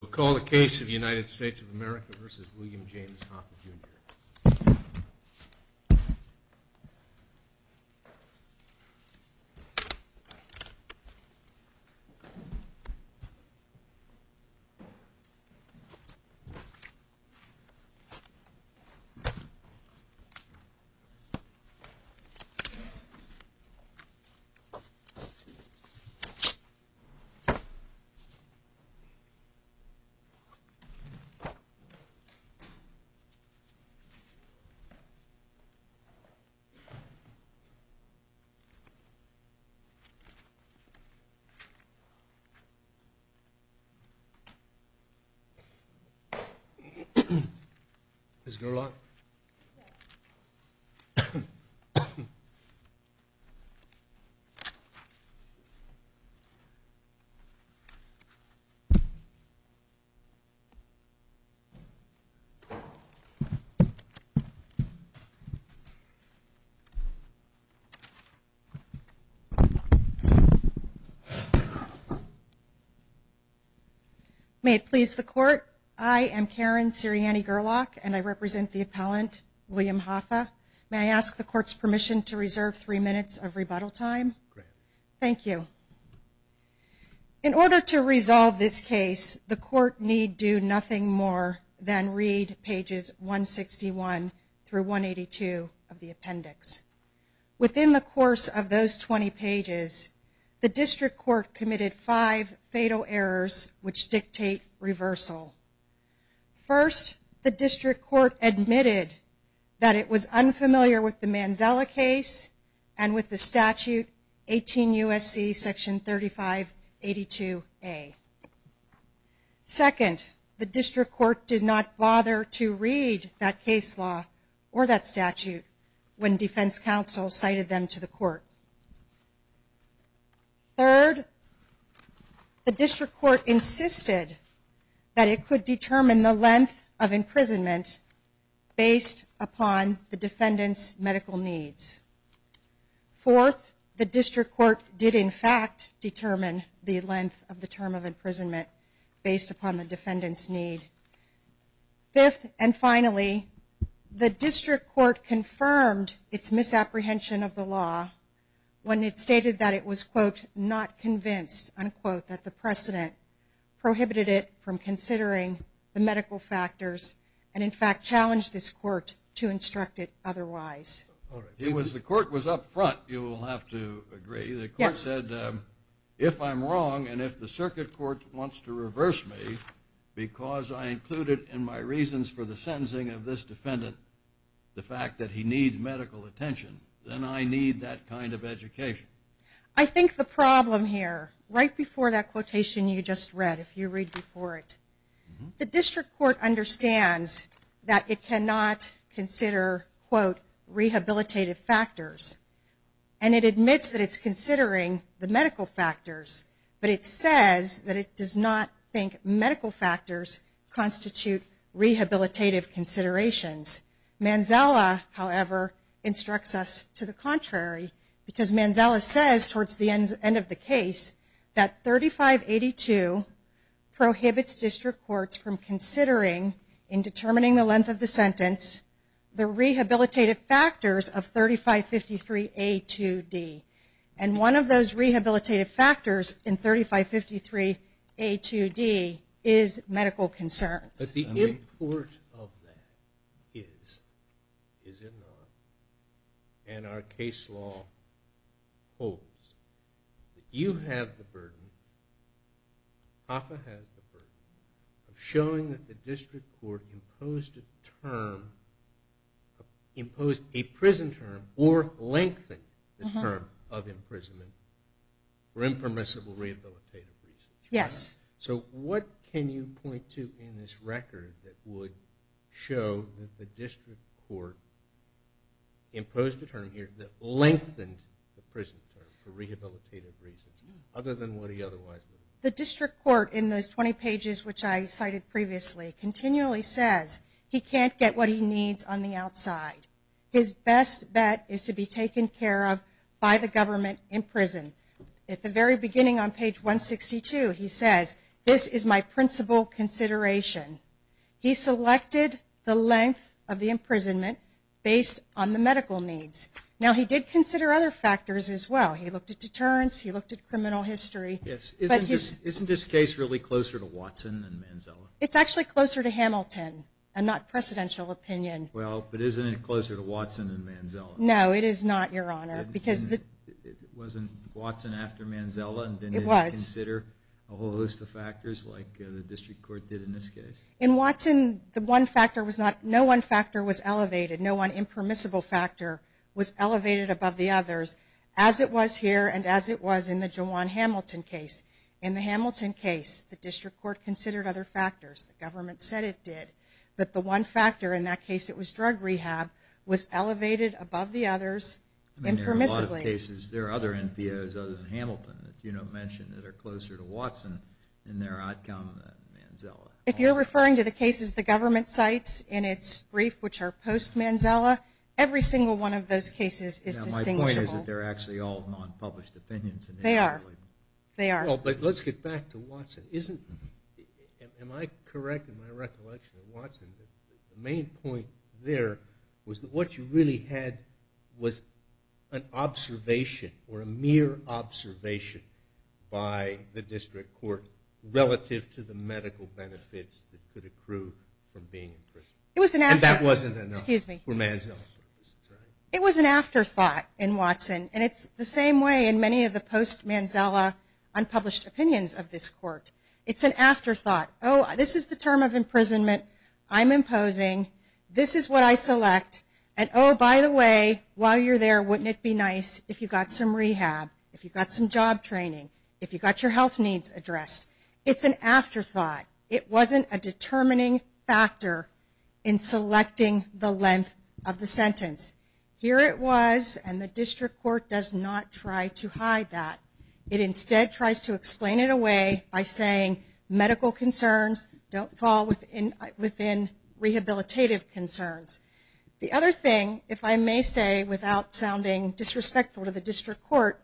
We'll call the case of the United States of America v. William James Hoffa Jr. Mr. May it please the court. I am Karen Sirianni Gerlach, and I represent the appellant, William Hoffa. May I ask the court's permission to reserve three minutes of rebuttal time? Thank you. In order to resolve this case, the court need do nothing more than read pages 161 through 182 of the appendix. Within the course of those 20 pages, the district court committed five fatal errors which dictate reversal. First, the district court admitted that it was unfamiliar with the Manzella case and with the statute 18 U.S.C. section 3582 A. Second, the district court did not bother to read that case law or that statute when defense counsel cited them to the court. Third, the district court insisted that it could determine the length of imprisonment based upon the defendant's medical needs. Fourth, the district court did in fact determine the length of the term of imprisonment based upon the defendant's need. Fifth, and finally, the district court confirmed its misapprehension of the law when it stated that it was quote, not convinced, unquote, that the precedent prohibited it from considering the medical factors and in fact challenged this court to instruct it otherwise. It was the court was up front, you will have to agree, the court said if I'm wrong and if the circuit court wants to reverse me because I included in my reasons for the sentencing of this defendant the fact that he needs medical attention, then I need that kind of education. I think the problem here, right before that quotation you just read, if you read before it, the district court understands that it cannot consider, quote, rehabilitative factors and it admits that it's considering the medical factors, but it says that it does not think medical factors constitute rehabilitative considerations. Manzala, however, instructs us to the contrary because Manzala says towards the end of the case that 3582 prohibits district courts from considering in determining the length of the sentence the rehabilitative factors of 3553A2D and one of those rehabilitative factors in 3553A2D is medical concerns. But the import of that is, is it not, and our case law holds, that you have the burden, HAFA has the burden, of showing that the district court imposed a term, imposed a prison term or lengthened the term of imprisonment for impermissible rehabilitative reasons. So what can you point to in this record that would show that the district court imposed a term here that lengthened the prison term for rehabilitative reasons other than what he otherwise would have done? The district court, in those 20 pages which I cited previously, continually says he can't get what he needs on the outside. His best bet is to be taken care of by the government in prison. At the very beginning on page 162 he says, this is my principal consideration. He selected the length of the imprisonment based on the medical needs. Now he did consider other factors as well. He looked at deterrence, he looked at criminal history. Yes, isn't this case really closer to Watson than Manzala? It's actually closer to Hamilton and not precedential opinion. No, it is not, your honor. It wasn't Watson after Manzala and didn't consider a whole host of factors like the district court did in this case? In Watson, no one factor was elevated, no one impermissible factor was elevated above the others as it was here and as it was in the Jawan Hamilton case. In the Hamilton case the district court considered other factors, the government said it did, but the one factor in that case, it was drug rehab, was elevated above the others impermissibly. I mean there are a lot of cases, there are other NPOs other than Hamilton that you don't mention that are closer to Watson in their outcome than Manzala. If you're referring to the cases the government cites in its brief, which are post-Manzala, every single one of those cases is distinguishable. Now my point is that they're actually all non-published opinions. They are, they are. But let's get back to Watson. Am I correct in my recollection in Watson, the main point there was that what you really had was an observation or a mere observation by the district court relative to the medical benefits that could accrue from being in prison. And that wasn't enough for Manzala. It was an afterthought in Watson and it's the same way in many of the post-Manzala, unpublished opinions of this court. It's an afterthought. Oh, this is the term of imprisonment I'm imposing. This is what I select and oh by the way, while you're there wouldn't it be nice if you got some rehab, if you got some job training, if you got your health needs addressed. It's an afterthought. Here it was and the district court does not try to hide that. It instead tries to explain it away by saying medical concerns don't fall within rehabilitative concerns. The other thing, if I may say without sounding disrespectful to the district court,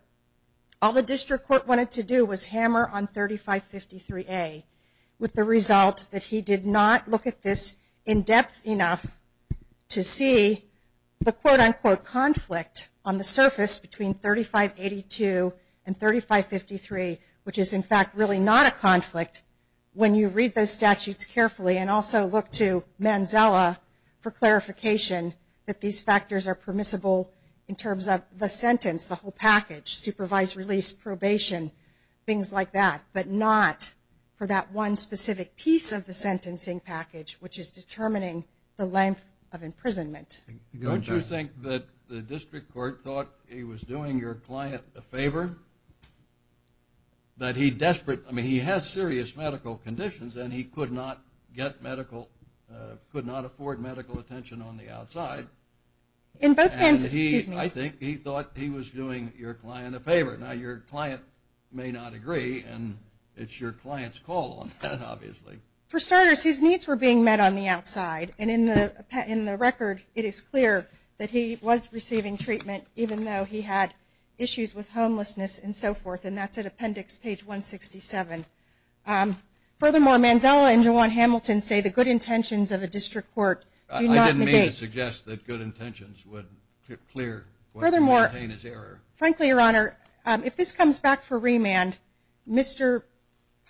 all the district court wanted to do was hammer on 3553A with the result that he did not look at this in depth enough to see the quote-unquote conflict on the surface between 3582 and 3553, which is in fact really not a conflict when you read those statutes carefully and also look to Manzala for clarification that these factors are permissible in terms of the sentence, the whole package, supervised release, probation, things like that, but not for that one specific piece of the sentencing package, which is determining the length of imprisonment. Don't you think that the district court thought he was doing your client a favor? That he desperate, I mean he has serious medical conditions and he could not get medical, could not afford medical attention on the outside. In both hands, excuse me. And he, I think he thought he was doing your client a favor. Now your client may not agree and it's your client's call on that obviously. For starters, his needs were being met on the outside and in the record, it is clear that he was receiving treatment even though he had issues with homelessness and so forth and that's at appendix page 167. Furthermore, Manzala and Jawan Hamilton say the good intentions of the district court do not negate. I didn't mean to suggest that good intentions would clear what's maintained as error. Frankly, your honor, if this comes back for remand, Mr.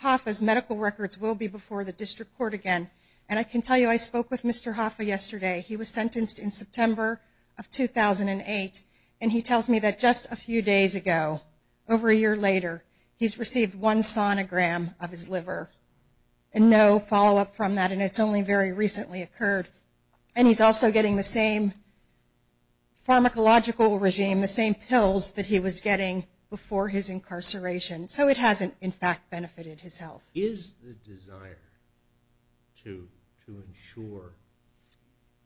Hoffa's medical records will be before the district court again. And I can tell you I spoke with Mr. Hoffa yesterday. He was sentenced in September of 2008 and he tells me that just a few days ago, over a year later, he's received one sonogram of his liver and no follow-up from that and it's only very recently occurred. And he's also getting the same pharmacological regime, the same pills that he was getting before his incarceration. So it hasn't, in fact, benefited his health. Is the desire to ensure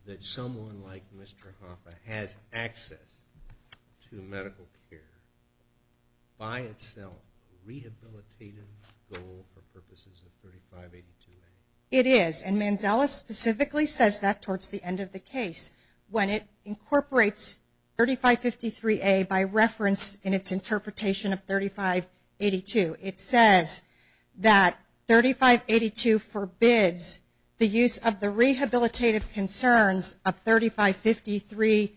that someone like Mr. Hoffa has access to medical care by itself a rehabilitative goal for purposes of 3582A? It is. And Manzala specifically says that towards the end of the case when it incorporates 3553A by reference in its interpretation of 3582. It says that 3582 forbids the use of the rehabilitative concerns of 3553A2D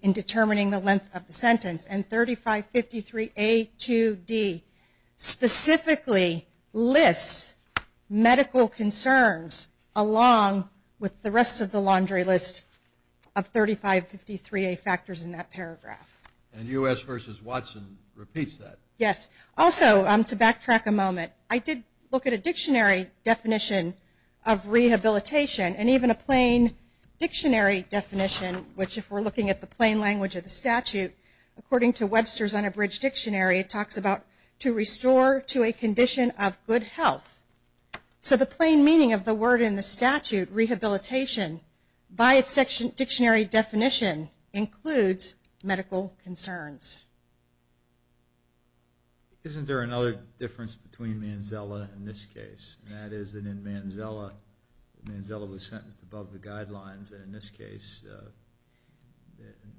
in determining the length of the sentence and 3553A2D specifically lists medical concerns along with the rest of the laundry list of 3553A factors in that paragraph. And U.S. v. Watson repeats that? Yes. Also, to backtrack a moment, I did look at a dictionary definition of rehabilitation and even a plain dictionary definition, which if we're looking at the plain language of the statute, according to Webster's Unabridged Dictionary, it talks about to restore to a condition of good health. So the plain meaning of the word in the statute, rehabilitation, by its dictionary definition includes medical concerns. Isn't there another difference between Manzala and this case? That is that in Manzala, Manzala was sentenced above the guidelines and in this case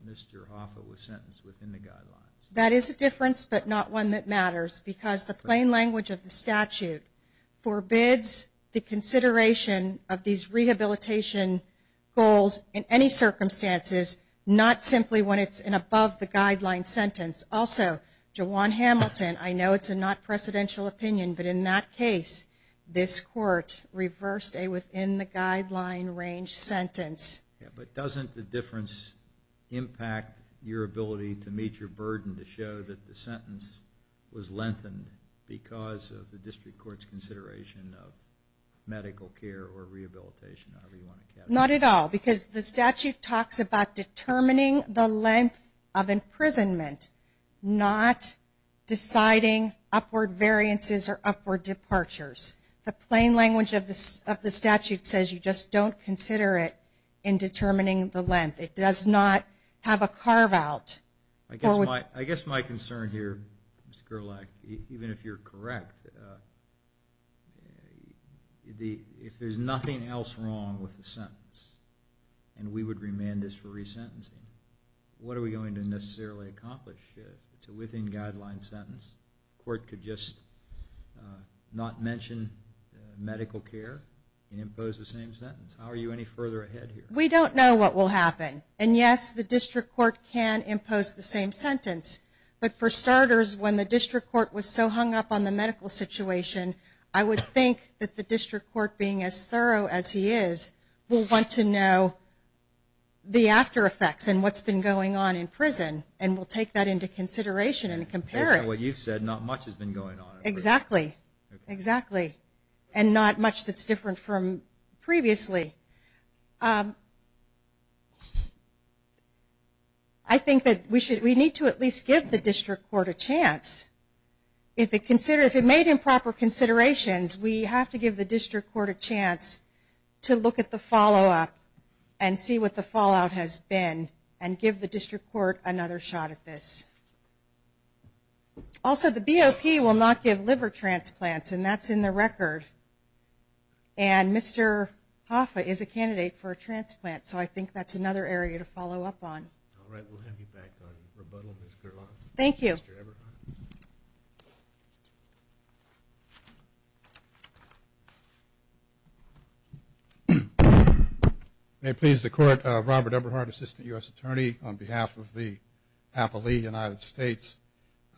Mr. Hoffa was sentenced within the guidelines. That is a difference, but not one that matters, because the plain language of the statute forbids the consideration of these rehabilitation goals in any circumstances, not simply when it's an above the guidelines sentence. Also, Jawan Hamilton, I know it's a not-presidential opinion, but in that case, this court reversed a within-the-guideline-range sentence. But doesn't the difference impact your ability to meet your burden to show that the sentence was lengthened because of the district court's consideration of medical care or rehabilitation? Not at all, because the statute talks about determining the length of imprisonment, not deciding upward variances or upward departures. The plain language of the statute says you just don't consider it in determining the length. It does not have a carve-out. I guess my concern here, Mr. Gerlach, even if you're correct, if there's nothing else wrong with the sentence and we would remand this for resentencing, what are we going to necessarily accomplish? It's a within-guideline sentence. The court could just not mention medical care and impose the same sentence. How are you any further ahead here? We don't know what will happen. And yes, the district court can impose the same sentence. But for starters, when the district court was so hung up on the medical situation, I would think that the district court, being as thorough as he is, will want to know the after-effects and what's been going on in prison and will take that into consideration and compare it. Based on what you've said, not much has been going on in prison. Exactly. And not much that's different from previously. I think that we need to at least give the district court a chance. If it made improper considerations, we have to give the district court a chance to look at the follow-up and see what the fallout has been and give the district court another shot at this. Also, the BOP will not give liver transplants, and that's in the record. And Mr. Hoffa is a candidate for a transplant, so I think that's another area to follow up on. All right. We'll have you back on rebuttal, Ms. Gerlach. Thank you. Mr. Eberhardt. May it please the Court, Robert Eberhardt, Assistant U.S. Attorney, on behalf of the Appalachian United States.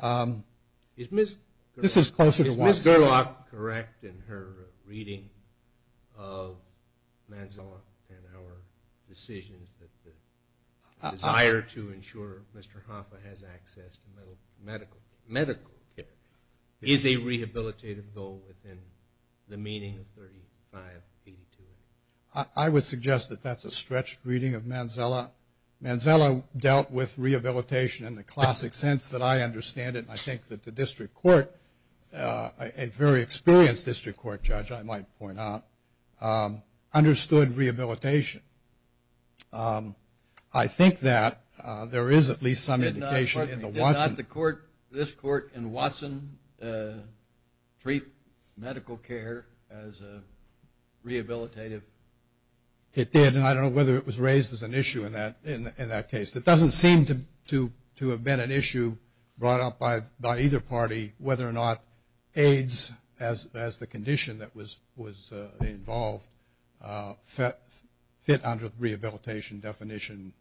Is Ms. Gerlach correct in her reading of Manzella and our decisions that the desire to ensure Mr. Hoffa has access to medical care is a rehabilitative goal within the meaning of 3582? I would suggest that that's a stretched reading of Manzella. Manzella dealt with rehabilitation in the classic sense that I understand it. I think that the district court, a very experienced district court judge, I might point out, understood rehabilitation. I think that there is at least some indication in the Watson. This court in Watson treat medical care as rehabilitative? It did. I don't know whether it was raised as an issue in that case. It doesn't seem to have been an issue brought up by either party whether or not AIDS as the condition that was involved fit under the rehabilitation definition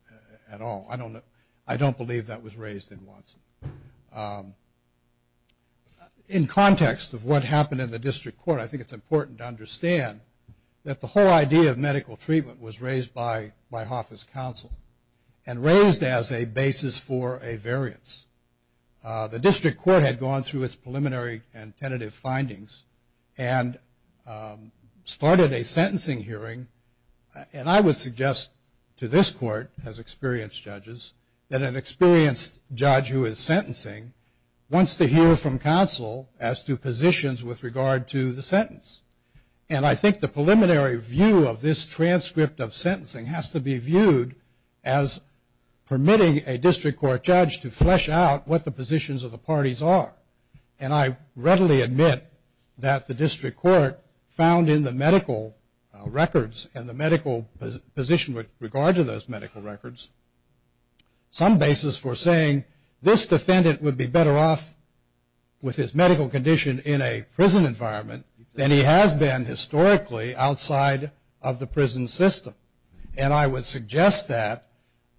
at all. I don't believe that was raised in Watson. In context of what happened in the district court, I think it's important to understand that the whole idea of medical treatment was raised by Hoffa's counsel and raised as a basis for a variance. The district court had gone through its preliminary and tentative findings and started a sentencing hearing and I would suggest to this court as experienced judges that an experienced judge who is sentencing wants to hear from counsel as to positions with regard to the sentence. And I think the preliminary view of this transcript of sentencing has to be viewed as permitting a district court judge to flesh out what the positions of the parties are. And I readily admit that the district court found in the medical records and the medical position with regard to those medical records some basis for saying this defendant would be better off with his medical condition in a prison environment than he has been historically outside of the prison system. And I would suggest that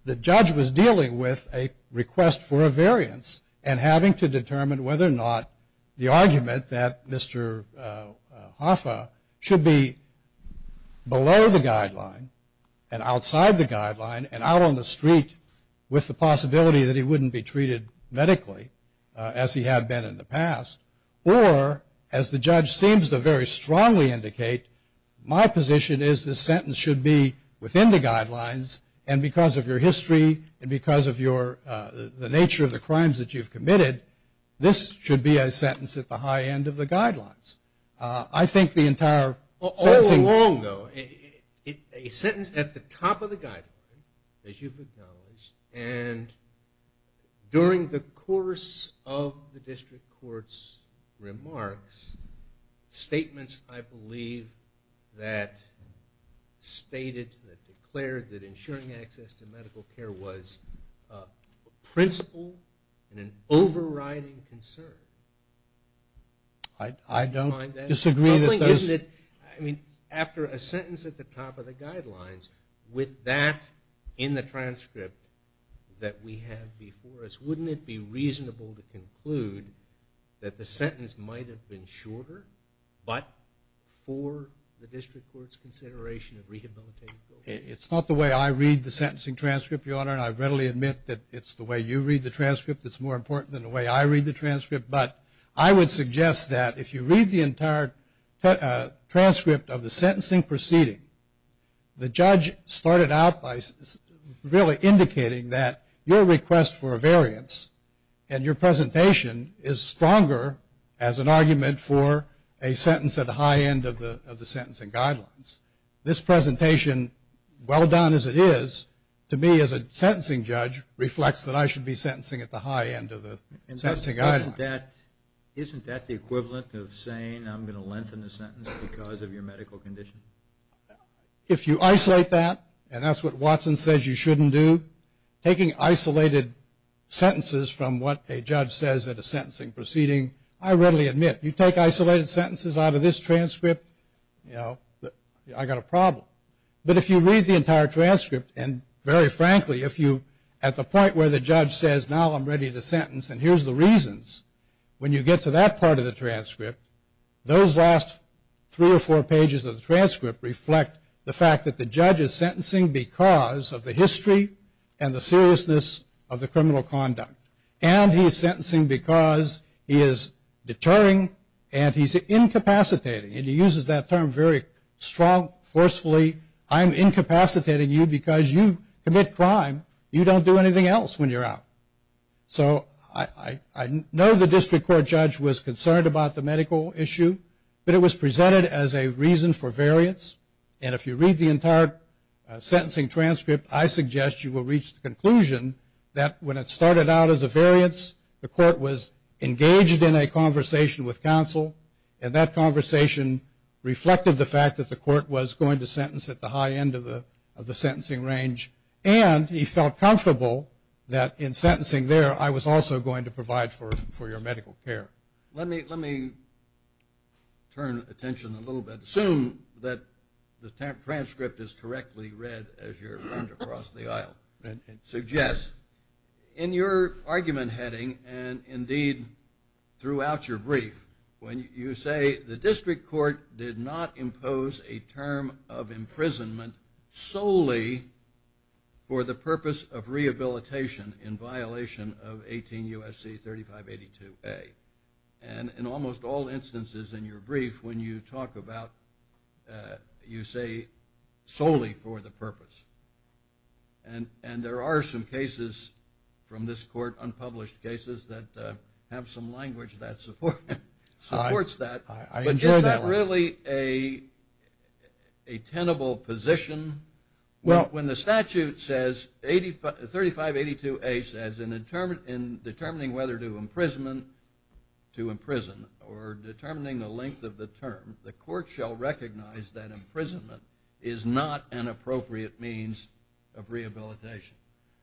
the judge was dealing with a request for a variance and having to determine whether or not the argument that Mr. Hoffa should be below the guideline and outside the guideline and out on the street with the possibility that he wouldn't be treated medically as he had been in the past or, as the judge seems to very strongly indicate, my position is this sentence should be within the guidelines and because of your history and because of the nature of the crimes that you've committed, this should be a sentence at the high end of the guidelines. I think the entire sentencing... During the course of the district court's remarks, statements, I believe, that stated, that declared that ensuring access to medical care was a principle and an overriding concern. I don't disagree that there's... I think, isn't it, I mean, after a sentence at the top of the guidelines, with that in the transcript that we have before us, wouldn't it be reasonable to conclude that the sentence might have been shorter, but for the district court's consideration of rehabilitative goals? It's not the way I read the sentencing transcript, Your Honor, and I readily admit that it's the way you read the transcript that's more important than the way I read the transcript, but I would suggest that if you read the entire transcript of the sentencing proceeding, the really indicating that your request for a variance and your presentation is stronger as an argument for a sentence at the high end of the sentencing guidelines. This presentation, well done as it is, to me as a sentencing judge, reflects that I should be sentencing at the high end of the sentencing guidelines. Isn't that the equivalent of saying I'm going to lengthen the sentence because of your medical condition? If you isolate that, and that's what Watson says you shouldn't do, taking isolated sentences from what a judge says at a sentencing proceeding, I readily admit, you take isolated sentences out of this transcript, you know, I've got a problem, but if you read the entire transcript and very frankly, if you, at the point where the judge says, now I'm ready to sentence and here's the reasons, when you get to that part of the transcript, those last three or four pages of the transcript reflect the fact that the judge is sentencing because of the history and the seriousness of the criminal conduct. And he's sentencing because he is deterring and he's incapacitating, and he uses that term very strong, forcefully, I'm incapacitating you because you commit crime, you don't do anything else when you're out. So I know the district court judge was concerned about the medical issue, but it was presented as a reason for variance, and if you read the entire sentencing transcript, I suggest you will reach the conclusion that when it started out as a variance, the court was engaged in a conversation with counsel, and that conversation reflected the fact that the court was going to sentence at the high end of the sentencing range, and he felt comfortable that in sentencing there I was also going to provide for your medical care. Let me turn attention a little bit, assume that the transcript is correctly read as you're going to cross the aisle, and suggest in your argument heading, and indeed throughout your brief, when you say the district court did not impose a term of imprisonment solely for the purpose of rehabilitation in violation of 18 U.S.C. 3582A, and in almost all instances in your brief when you talk about, you say solely for the purpose, and there are some cases from this court, unpublished cases, that have some language that supports that. I enjoy that language. Is that really a tenable position? Well, when the statute says, 3582A says, in determining whether to imprison, or determining the length of the term, the court shall recognize that imprisonment is not an appropriate means of rehabilitation.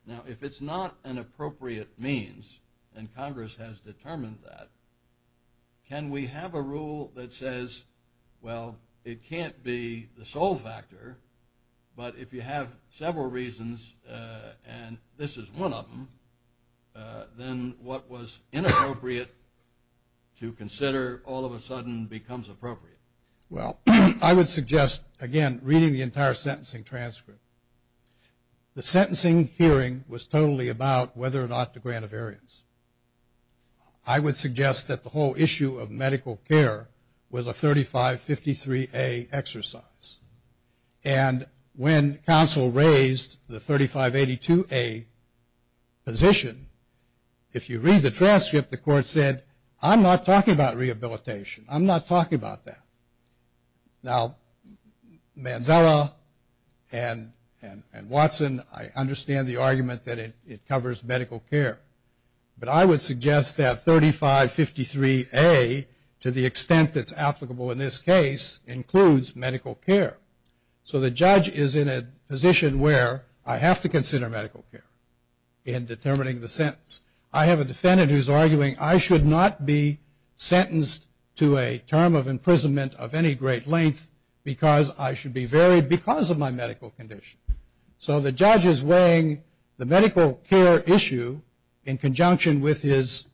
Now, if it's not an appropriate means, and Congress has determined that, can we have a rule that says, well, it can't be the sole factor, but if you have several reasons, and this is one of them, then what was inappropriate to consider all of a sudden becomes appropriate. Well, I would suggest, again, reading the entire sentencing transcript, the sentencing hearing was totally about whether or not to grant a variance. I would suggest that the whole issue of medical care was a 3553A exercise, and when counsel raised the 3582A position, if you read the transcript, the court said, I'm not talking about rehabilitation, I'm not talking about that. Now, Manzella and Watson, I understand the argument that it covers medical care, but I would suggest that 3553A, to the extent that's applicable in this case, includes medical care. So the judge is in a position where I have to consider medical care in determining the sentence. I have a defendant who's arguing I should not be sentenced to a term of imprisonment of any great length because I should be varied because of my medical condition. So the judge is weighing the medical care issue in conjunction with his,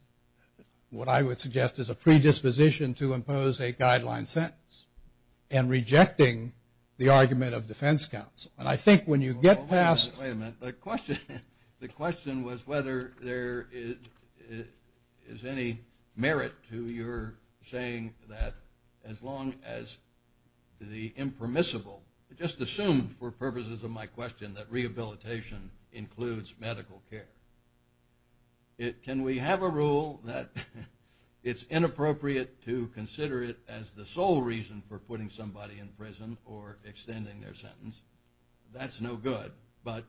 what I would suggest is a predisposition to impose a guideline sentence, and rejecting the argument of defense counsel. And I think when you get past- Wait a minute, the question was whether there is any merit to your saying that as long as the impermissible, just assume for purposes of my question that rehabilitation includes medical care. Can we have a rule that it's inappropriate to consider it as the sole reason for putting somebody in prison or extending their sentence? That's no good. But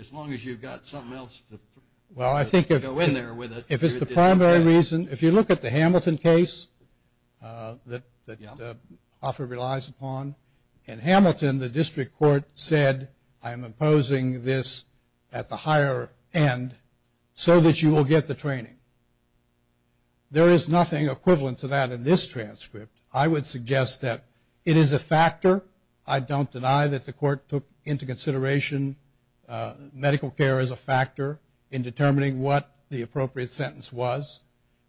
as long as you've got something else to go in there with it- Well, I think if it's the primary reason, if you look at the Hamilton case that Offer relies upon, in Hamilton the district court said, I'm imposing this at the higher end so that you will get the training. There is nothing equivalent to that in this transcript. I would suggest that it is a factor. I don't deny that the court took into consideration medical care as a factor in determining what the appropriate sentence was.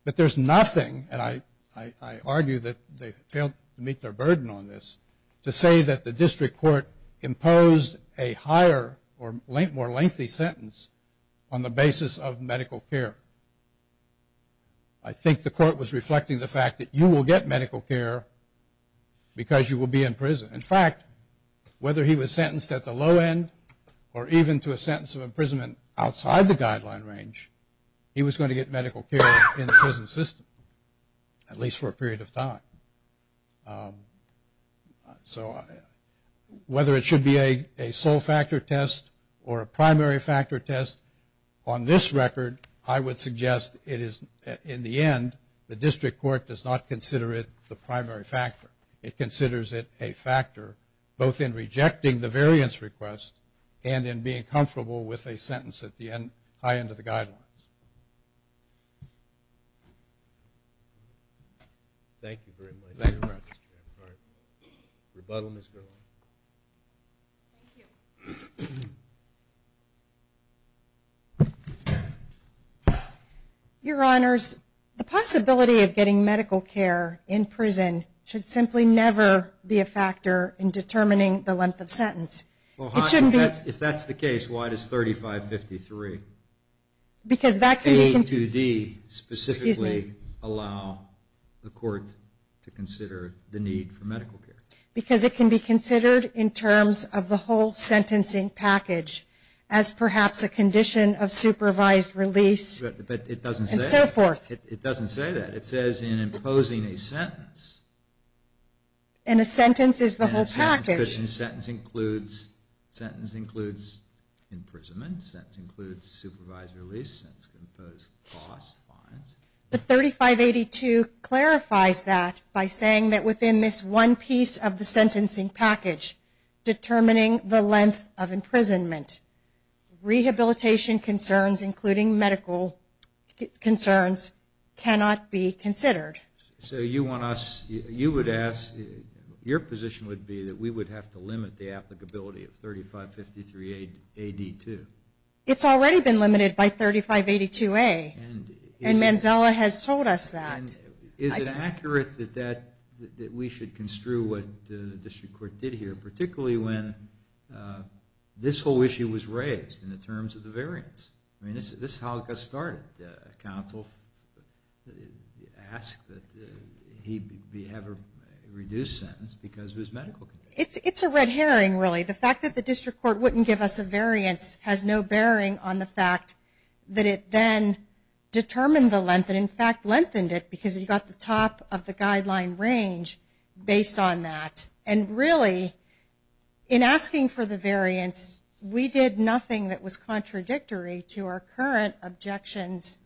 But there's nothing, and I argue that they failed to meet their burden on this, to say that the district court imposed a higher or more lengthy sentence on the basis of medical care. I think the court was reflecting the fact that you will get medical care because you will be in prison. In fact, whether he was sentenced at the low end or even to a sentence of imprisonment outside the guideline range, he was going to get medical care in the prison system, at least for a period of time. So whether it should be a sole factor test or a primary factor test, on this record, I would suggest it is, in the end, the district court does not consider it the primary factor. It considers it a factor, both in rejecting the variance request and in being comfortable with a sentence at the high end of the guidelines. Thank you very much. Thank you. Rebuttal, Ms. Gerlach. Thank you. Your Honors, the possibility of getting medical care in prison should simply never be a factor in determining the length of sentence. If that's the case, why does 3553, A2D, specifically allow the court to consider the need for medical care? Because it can be considered in terms of the whole sentencing package as perhaps a condition of supervised release and so forth. It doesn't say that. It says in imposing a sentence. And a sentence is the whole package. A sentence includes imprisonment, a sentence includes supervised release, a sentence can impose costs, fines. But 3582 clarifies that by saying that within this one piece of the sentencing package determining the length of imprisonment, rehabilitation concerns including medical concerns cannot be considered. So you want us, you would ask, your position would be that we would have to limit the applicability of 3553, AD2. It's already been limited by 3582A and Manzella has told us that. Is it accurate that we should construe what the district court did here, particularly when this whole issue was raised in the terms of the variance? This is how it got started. Counsel asked that he have a reduced sentence because of his medical conditions. It's a red herring really. The fact that the district court wouldn't give us a variance has no bearing on the fact that it then determined the length and in fact lengthened it because he got the top of the guideline range based on that. And really in asking for the variance we did nothing that was contradictory to our current objections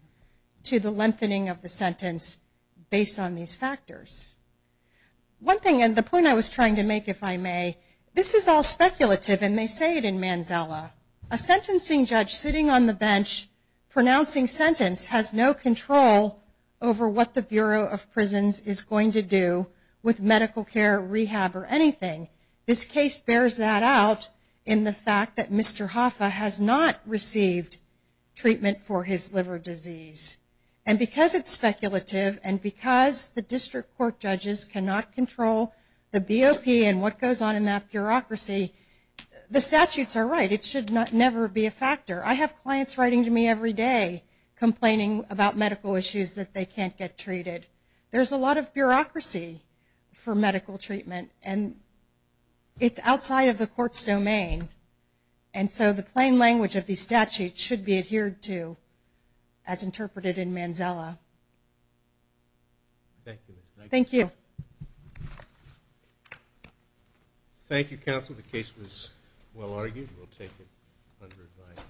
to the lengthening of the sentence based on these factors. One thing and the point I was trying to make if I may, this is all speculative and they say it in Manzella. A sentencing judge sitting on the bench pronouncing sentence has no control over what the Bureau of Prisons is going to do with medical care, rehab, or anything. This case bears that out in the fact that Mr. Hoffa has not received treatment for his liver disease. And because it's speculative and because the district court judges cannot control the BOP and what goes on in that bureaucracy, the statutes are right. It should never be a factor. I have clients writing to me every day complaining about medical issues that they can't get treated. There's a lot of bureaucracy for medical treatment and it's outside of the court's domain. And so the plain language of these statutes should be adhered to as interpreted in Manzella. Thank you. Thank you counsel. The case was well argued. We'll take it under advice.